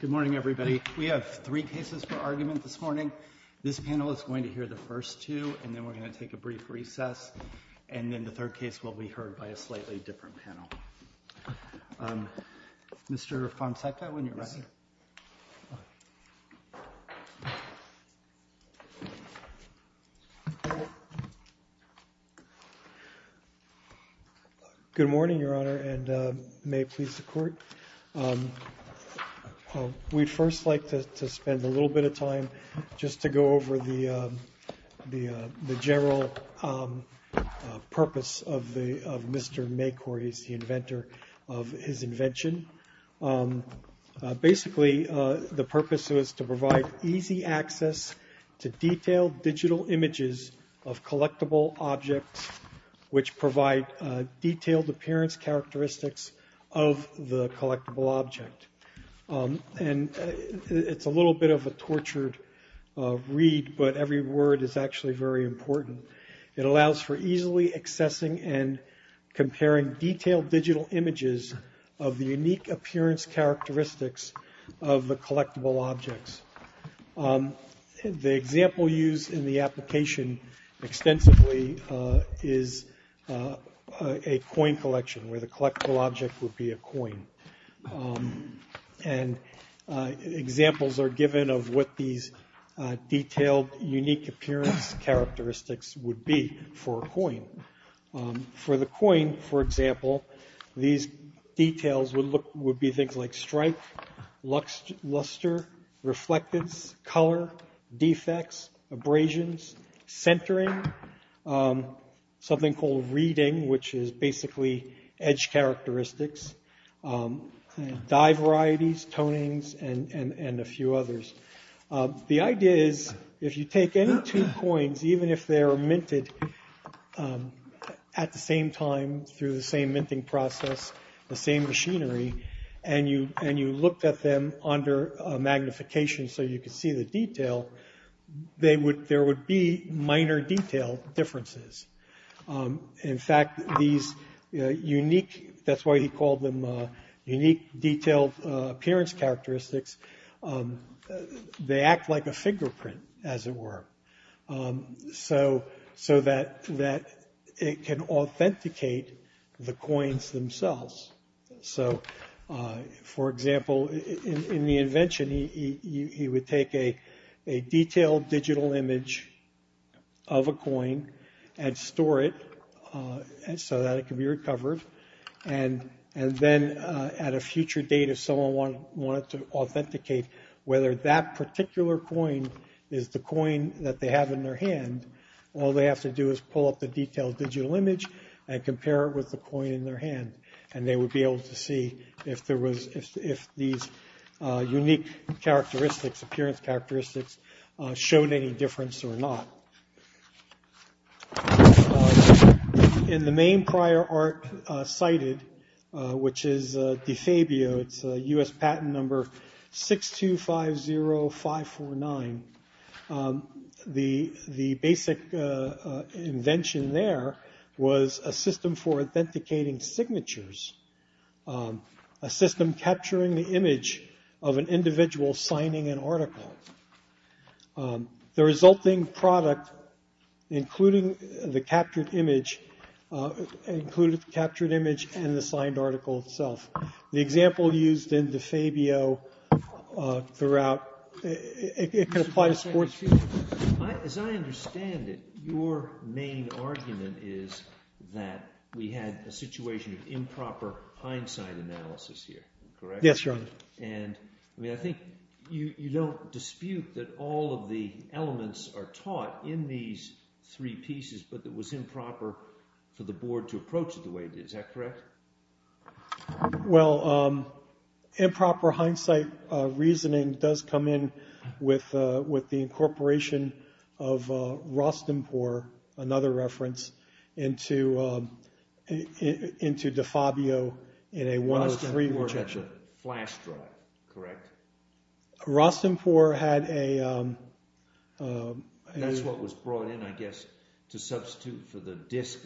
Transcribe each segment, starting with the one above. Good morning, everybody. We have three cases for argument this morning. This panel is going to hear the first two, and then we're going to take a brief recess, and then the third case will be heard by a slightly different panel. Good morning, Your Honor, and may it please the Court. We'd first like to spend a little bit of time just to go over the general purpose of Mr. Macor. He's the inventor of his invention. Basically the purpose was to provide easy access to detailed digital images of collectible objects which provide detailed appearance characteristics of the collectible object. It's a little bit of a tortured read, but every word is actually very important. It allows for easily accessing and comparing detailed digital images of the unique appearance characteristics of the collectible objects. The example used in the application extensively is a coin collection where the collectible object would be a coin. Examples are given of what these detailed unique appearance characteristics would be for a coin. For the coin, for example, these details would be things like strike, luster, reflectance, color, defects, abrasions, centering, something called reading, which is basically edge characteristics, dye varieties, tonings, and a few others. The idea is if you take any two coins, even if they are minted at the same time through the same minting process, the same machinery, and you looked at them under magnification so you could see the detail, there would be minor detail differences. In fact, these unique, that's why he called them unique detailed appearance characteristics, they act like a fingerprint, as it were, so that it can authenticate the coins themselves. So, for example, in the invention, he would take a detailed digital image of a coin and store it so that it could be recovered, and then at a future date if someone wanted to authenticate whether that particular coin is the coin that they have in their hand, all they have to do is pull up the detailed digital image and compare it with the coin in their hand, and they would be able to see if these unique characteristics, appearance characteristics, showed any difference or not. In the main prior art cited, which is DeFabio, it's US patent number 6250549, the basic invention there was a system for authenticating signatures, a system capturing the image of an individual signing an article. The resulting product, including the captured image, included the captured image and the signed article itself. The example used in DeFabio throughout, it can apply to sports. As I understand it, your main argument is that we had a situation of improper hindsight analysis here, correct? Yes, Your Honor. And, I mean, I think you don't dispute that all of the elements are taught in these three pieces, but it was improper for the board to approach it the way it did, is that correct? Well, improper hindsight reasoning does come in with the incorporation of Rostenpohr, another reference, into DeFabio in a one of three... Rostenpohr had a flash drive, correct? Rostenpohr had a... That's what was brought in, I guess, to substitute for the disk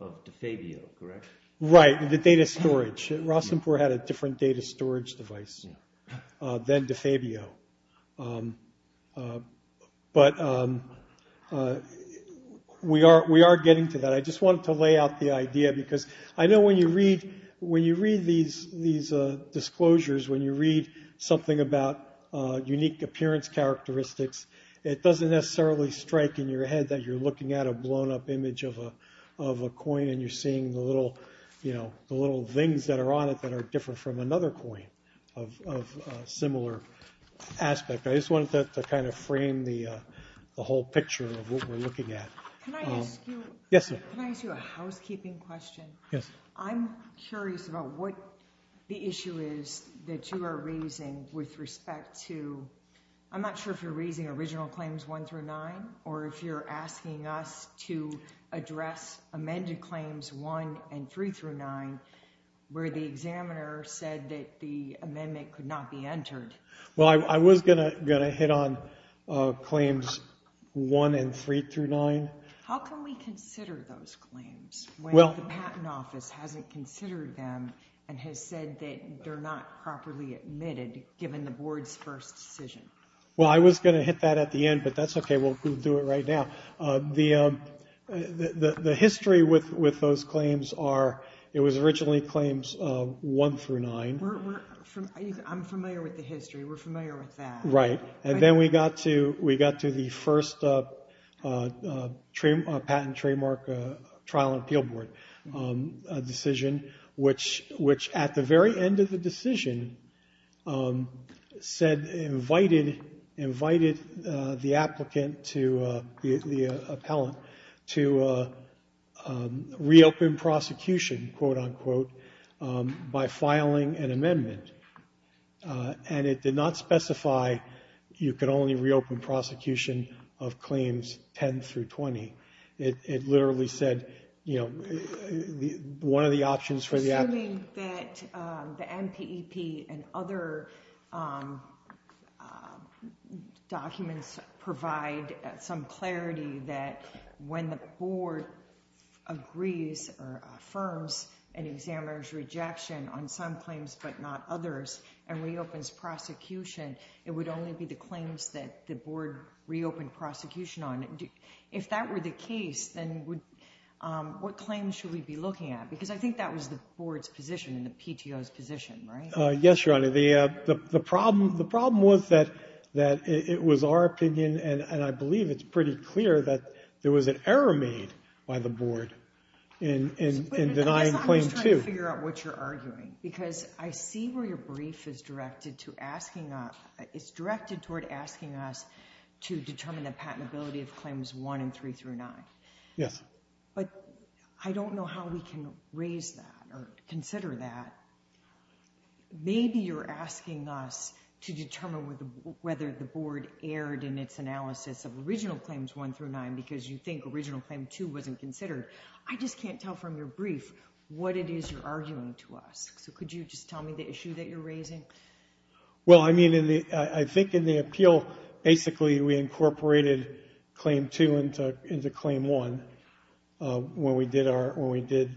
of DeFabio, correct? Right, the data storage. Rostenpohr had a different data storage device than DeFabio, but we are getting to that. I just wanted to lay out the idea because I know when you read these disclosures, when you read something about unique appearance characteristics, it doesn't necessarily strike in your head that you're looking at a blown up image of a coin and you're seeing the little things that are on it that are different from another coin of a similar aspect. I just wanted to kind of frame the whole picture of what we're looking at. Can I ask you a housekeeping question? Yes. I'm curious about what the issue is that you are raising with respect to... or if you're asking us to address amended claims one and three through nine where the examiner said that the amendment could not be entered. Well, I was going to hit on claims one and three through nine. How can we consider those claims when the patent office hasn't considered them and has said that they're not properly admitted given the board's first decision? Well, I was going to hit that at the end, but that's okay. We'll do it right now. The history with those claims are it was originally claims one through nine. I'm familiar with the history. We're familiar with that. Right. And then we got to the first patent trademark trial and appeal board decision, which at the very end of the decision invited the applicant, the appellant, to reopen prosecution, quote unquote, by filing an amendment. And it did not specify you could only reopen prosecution of claims 10 through 20. It literally said one of the options for the applicant... Certainly that the NPEP and other documents provide some clarity that when the board agrees or affirms an examiner's rejection on some claims but not others and reopens prosecution, it would only be the claims that the board reopened prosecution on. If that were the case, then what claims should we be looking at? Because I think that was the board's position and the PTO's position, right? Yes, Your Honor. The problem was that it was our opinion, and I believe it's pretty clear that there was an error made by the board in denying claim two. I guess I'm just trying to figure out what you're arguing because I see where your brief is directed to asking us. It's directed toward asking us to determine the patentability of claims one and three through nine. Yes. But I don't know how we can raise that or consider that. Maybe you're asking us to determine whether the board erred in its analysis of original claims one through nine because you think original claim two wasn't considered. I just can't tell from your brief what it is you're arguing to us. So could you just tell me the issue that you're raising? Well, I mean, I think in the appeal, basically we incorporated claim two into claim one when we did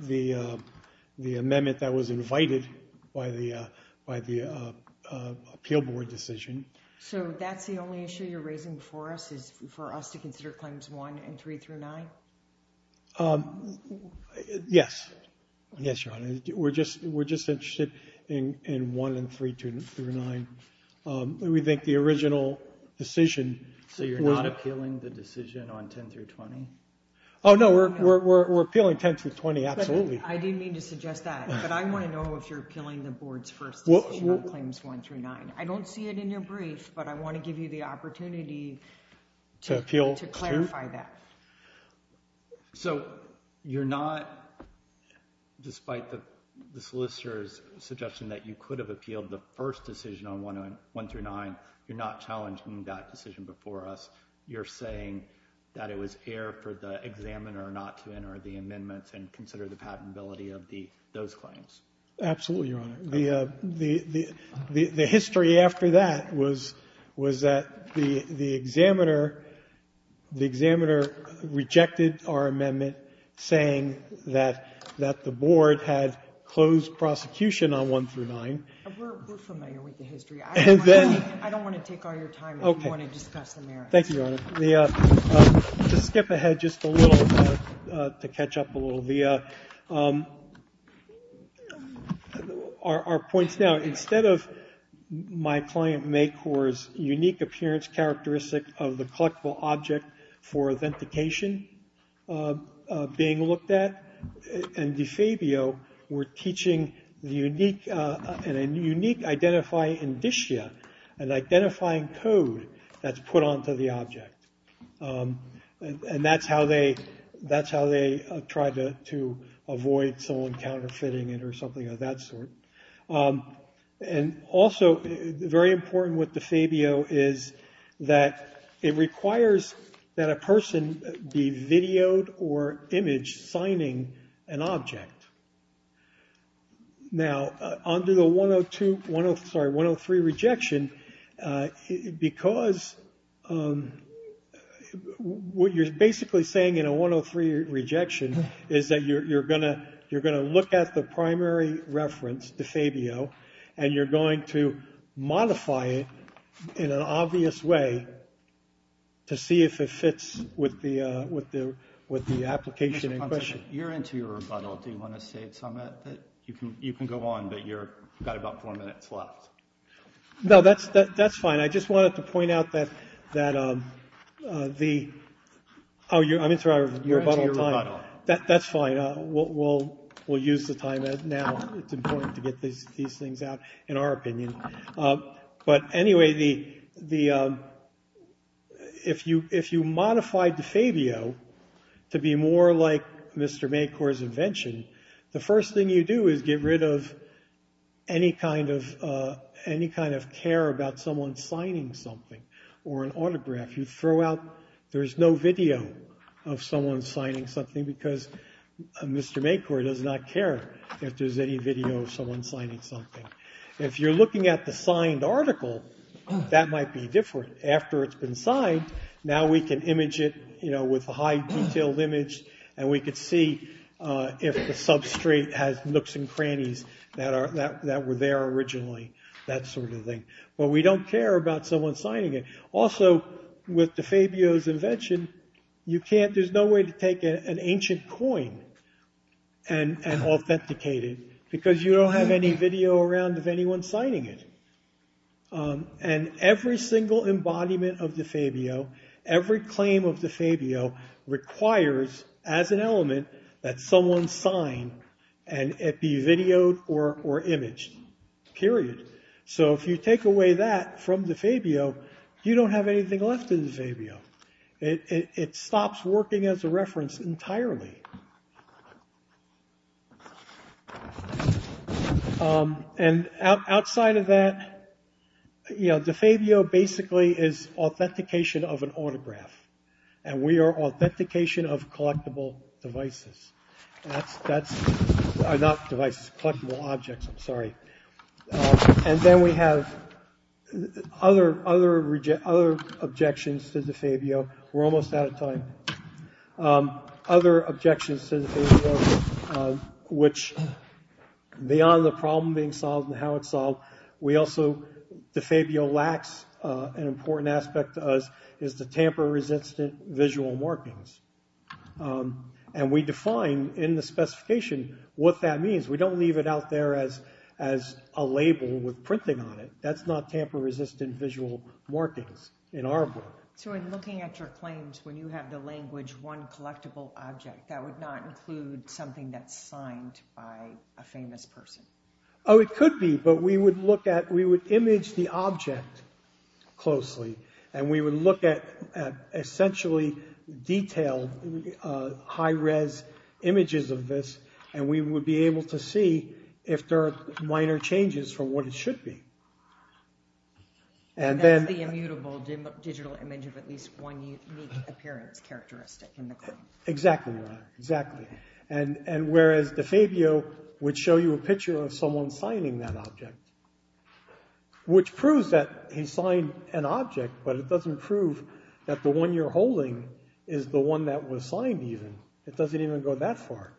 the amendment that was invited by the appeal board decision. So that's the only issue you're raising for us is for us to consider claims one and three through nine? Yes. Yes, Your Honor. We're just interested in one and three through nine. We think the original decision. So you're not appealing the decision on 10 through 20? Oh, no, we're appealing 10 through 20, absolutely. I didn't mean to suggest that, but I want to know if you're appealing the board's first decision on claims one through nine. I don't see it in your brief, but I want to give you the opportunity to clarify that. So you're not, despite the solicitor's suggestion that you could have appealed the first decision on one through nine, you're not challenging that decision before us? You're saying that it was air for the examiner not to enter the amendments and consider the patentability of those claims? Absolutely, Your Honor. The history after that was that the examiner rejected our amendment saying that the board had closed prosecution on one through nine. We're familiar with the history. I don't want to take all your time if you want to discuss the merits. Thank you, Your Honor. To skip ahead just a little, to catch up a little, our points now, instead of my client MAKOR's unique appearance characteristic of the collectible object for authentication being looked at, and DeFabio were teaching a unique identifying indicia, an identifying code that's put onto the object. And that's how they tried to avoid someone counterfeiting it or something of that sort. And also very important with DeFabio is that it requires that a person be videoed or imaged signing an object. Now, under the 103 rejection, because what you're basically saying in a 103 rejection is that you're going to look at the primary reference, DeFabio, and you're going to modify it in an obvious way to see if it fits with the application in question. You're into your rebuttal. Do you want to say something? You can go on, but you've got about four minutes left. No, that's fine. I just wanted to point out that the – oh, I'm interrupting. You're into your rebuttal. That's fine. We'll use the time now. It's important to get these things out, in our opinion. But anyway, the – if you modify DeFabio to be more like Mr. Maykor's invention, the first thing you do is get rid of any kind of care about someone signing something or an autograph. You throw out – there's no video of someone signing something because Mr. Maykor does not care if there's any video of someone signing something. If you're looking at the signed article, that might be different. After it's been signed, now we can image it with a high-detailed image, and we could see if the substrate has nooks and crannies that were there originally, that sort of thing. But we don't care about someone signing it. Also, with DeFabio's invention, you can't – there's no way to take an ancient coin and authenticate it because you don't have any video around of anyone signing it. And every single embodiment of DeFabio, every claim of DeFabio requires, as an element, that someone sign and it be videoed or imaged, period. So if you take away that from DeFabio, you don't have anything left of DeFabio. It stops working as a reference entirely. And outside of that, DeFabio basically is authentication of an autograph, and we are authentication of collectible devices – not devices, collectible objects, I'm sorry. And then we have other objections to DeFabio. We're almost out of time. Other objections to DeFabio, which, beyond the problem being solved and how it's solved, we also – DeFabio lacks an important aspect to us, is the tamper-resistant visual markings. And we define in the specification what that means. We don't leave it out there as a label with printing on it. That's not tamper-resistant visual markings in our book. So in looking at your claims, when you have the language, one collectible object, that would not include something that's signed by a famous person? Oh, it could be, but we would look at – we would image the object closely, and we would look at essentially detailed high-res images of this, and we would be able to see if there are minor changes from what it should be. And that's the immutable digital image of at least one unique appearance characteristic in the claim. Exactly right, exactly. And whereas DeFabio would show you a picture of someone signing that object, which proves that he signed an object, but it doesn't prove that the one you're holding is the one that was signed even. It doesn't even go that far,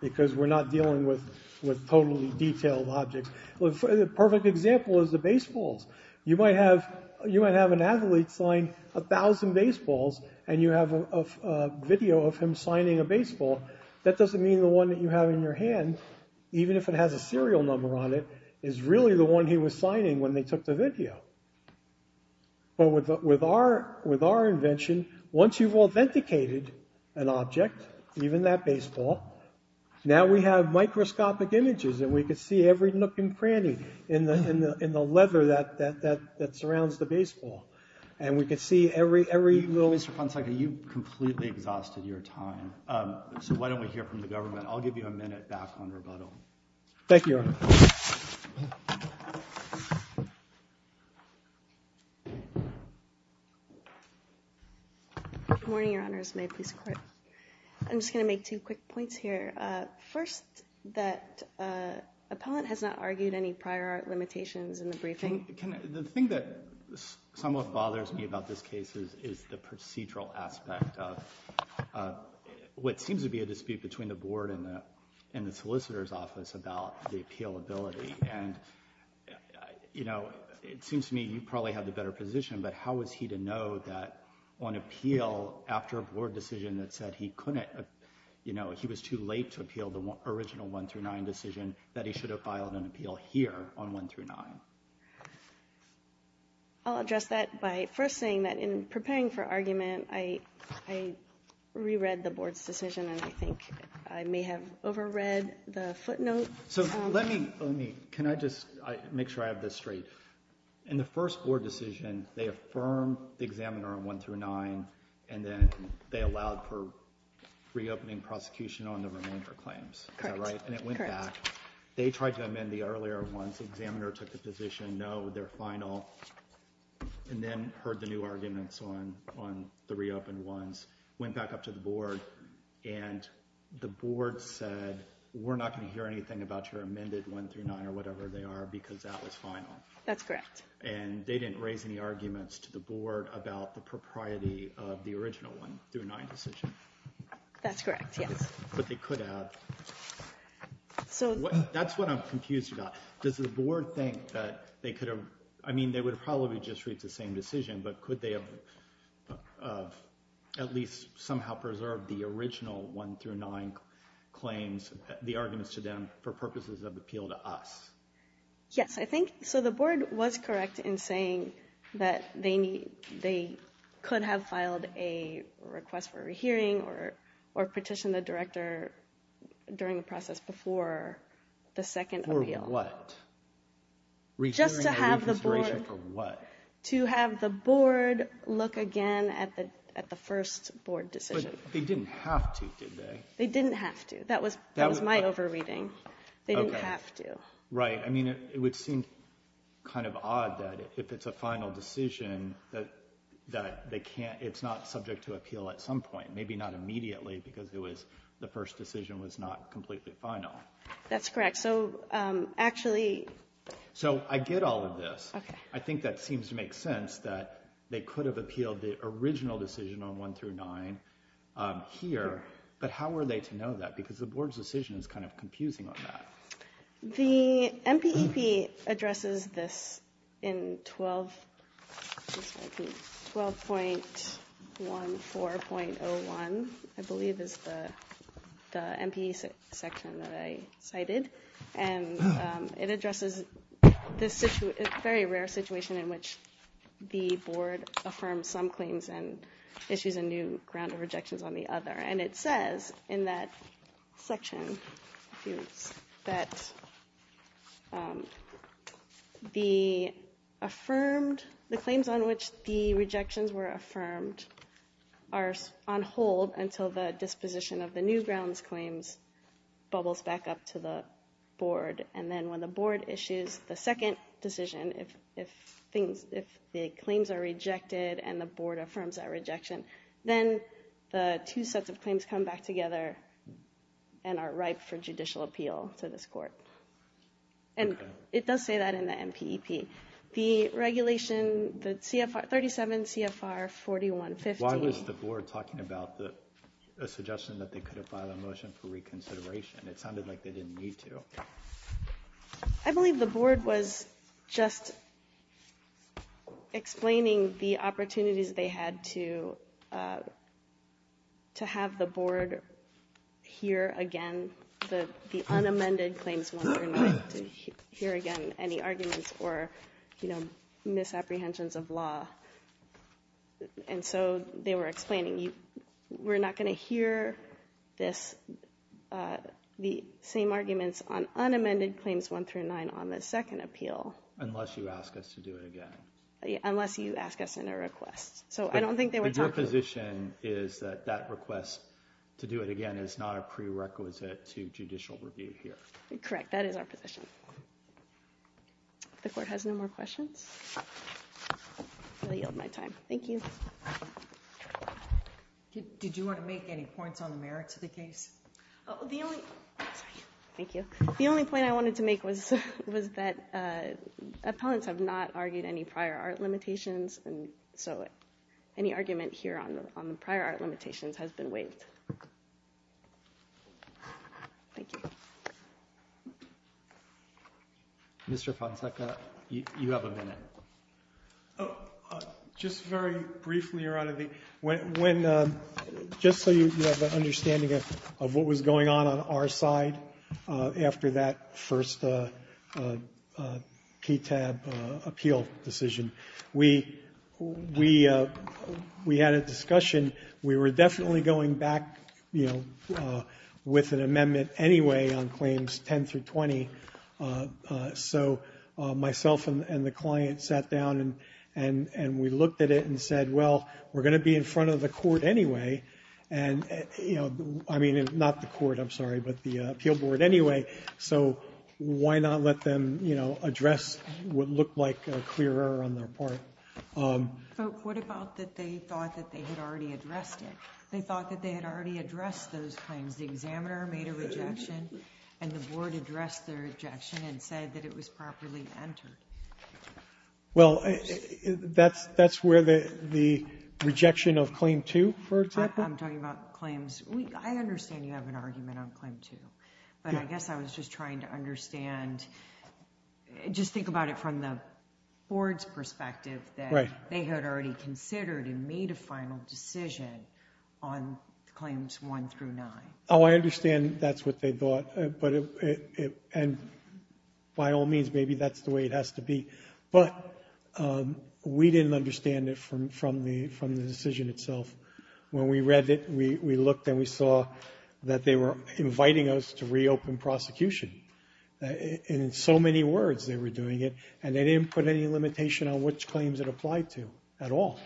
because we're not dealing with totally detailed objects. The perfect example is the baseballs. You might have an athlete sign 1,000 baseballs, and you have a video of him signing a baseball. That doesn't mean the one that you have in your hand, even if it has a serial number on it, is really the one he was signing when they took the video. But with our invention, once you've authenticated an object, even that baseball, now we have microscopic images, and we can see every nook and cranny in the leather that surrounds the baseball. And we can see every little— Mr. Ponceca, you've completely exhausted your time. So why don't we hear from the government? I'll give you a minute back on rebuttal. Thank you, Your Honor. Good morning, Your Honor. I'm just going to make two quick points here. First, that appellant has not argued any prior limitations in the briefing. The thing that somewhat bothers me about this case is the procedural aspect of what seems to be a dispute between the board and the solicitor's office about the appealability. And, you know, it seems to me you probably have the better position, but how is he to know that on appeal, after a board decision that said he couldn't— you know, he was too late to appeal the original 1-9 decision, that he should have filed an appeal here on 1-9? I'll address that by first saying that in preparing for argument, I reread the board's decision, and I think I may have overread the footnote. So let me—can I just make sure I have this straight? In the first board decision, they affirmed the examiner on 1-9, and then they allowed for reopening prosecution on the remainder claims. Is that right? And it went back. They tried to amend the earlier ones. The examiner took the position, no, they're final, and then heard the new arguments on the reopened ones, went back up to the board, and the board said, we're not going to hear anything about your amended 1-9 or whatever they are because that was final. That's correct. And they didn't raise any arguments to the board about the propriety of the original 1-9 decision. That's correct, yes. But they could have. So— That's what I'm confused about. Does the board think that they could have— I mean, they would have probably just reached the same decision, but could they have at least somehow preserved the original 1-9 claims, the arguments to them for purposes of appeal to us? Yes, I think so. The board was correct in saying that they could have filed a request for a re-hearing or petitioned the director during the process before the second appeal. Just to have the board— Re-hearing and reconsideration for what? To have the board look again at the first board decision. But they didn't have to, did they? They didn't have to. That was my over-reading. They didn't have to. Right. I mean, it would seem kind of odd that if it's a final decision, that it's not subject to appeal at some point, maybe not immediately because the first decision was not completely final. That's correct. So actually— So I get all of this. I think that seems to make sense that they could have appealed the original decision on 1-9 here, but how were they to know that? Because the board's decision is kind of confusing on that. The MPEB addresses this in 12.14.01, I believe, is the MPE section that I cited. And it addresses this very rare situation in which the board affirms some claims and issues a new round of rejections on the other. And it says in that section that the claims on which the rejections were affirmed are on hold until the disposition of the new grounds claims bubbles back up to the board. And then when the board issues the second decision, if the claims are rejected and the board affirms that rejection, then the two sets of claims come back together and are ripe for judicial appeal to this court. And it does say that in the MPEB. The regulation, the CFR—37 CFR 4150— Why was the board talking about the suggestion that they could have filed a motion for reconsideration? It sounded like they didn't need to. I believe the board was just explaining the opportunities they had to have the board hear again the unamended claims and hear again any arguments or, you know, misapprehensions of law. And so they were explaining, we're not going to hear this, the same arguments on unamended claims 1 through 9 on the second appeal. Unless you ask us to do it again. Unless you ask us in a request. So I don't think they were talking— Your position is that that request to do it again is not a prerequisite to judicial review here. Correct. That is our position. The court has no more questions. I yield my time. Thank you. Did you want to make any points on the merits of the case? The only—sorry. Thank you. The only point I wanted to make was that appellants have not argued any prior art limitations, and so any argument here on the prior art limitations has been waived. Thank you. Mr. Ponceca, you have a minute. Oh, just very briefly around the—when—just so you have an understanding of what was going on on our side after that first KTAB appeal decision. We had a discussion. We were definitely going back, you know, with an amendment anyway on claims 10 through 20. So myself and the client sat down, and we looked at it and said, well, we're going to be in front of the court anyway. And, you know—I mean, not the court, I'm sorry, but the appeal board anyway. So why not let them, you know, address what looked like a clear error on their part? But what about that they thought that they had already addressed it? They thought that they had already addressed those claims. The examiner made a rejection, and the board addressed the rejection and said that it was properly entered. Well, that's where the rejection of Claim 2, for example? I'm talking about claims—I understand you have an argument on Claim 2, but I guess I was just trying to understand—just think about it from the board's perspective that they had already considered and made a final decision on Claims 1 through 9. Oh, I understand that's what they thought, and by all means, maybe that's the way it has to be. But we didn't understand it from the decision itself. When we read it, we looked and we saw that they were inviting us to reopen prosecution. In so many words, they were doing it, and they didn't put any limitation on which claims it applied to at all.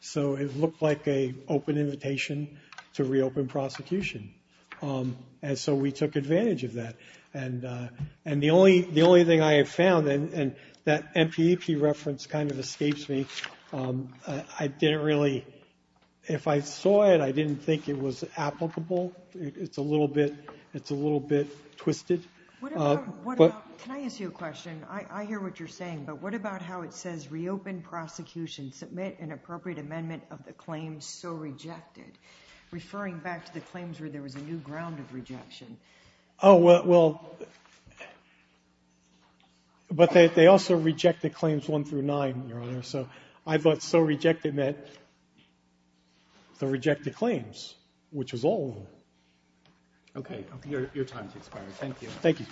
So it looked like an open invitation to reopen prosecution, and so we took advantage of that. And the only thing I have found, and that MPEP reference kind of escapes me, I didn't really—if I saw it, I didn't think it was applicable. It's a little bit twisted. What about—can I ask you a question? I hear what you're saying, but what about how it says, reopen prosecution, submit an appropriate amendment of the claims so rejected, referring back to the claims where there was a new ground of rejection? Oh, well—but they also rejected Claims 1 through 9, Your Honor, so I thought so rejected meant the rejected claims, which was all of them. Okay. Your time has expired. Thank you. Thank you.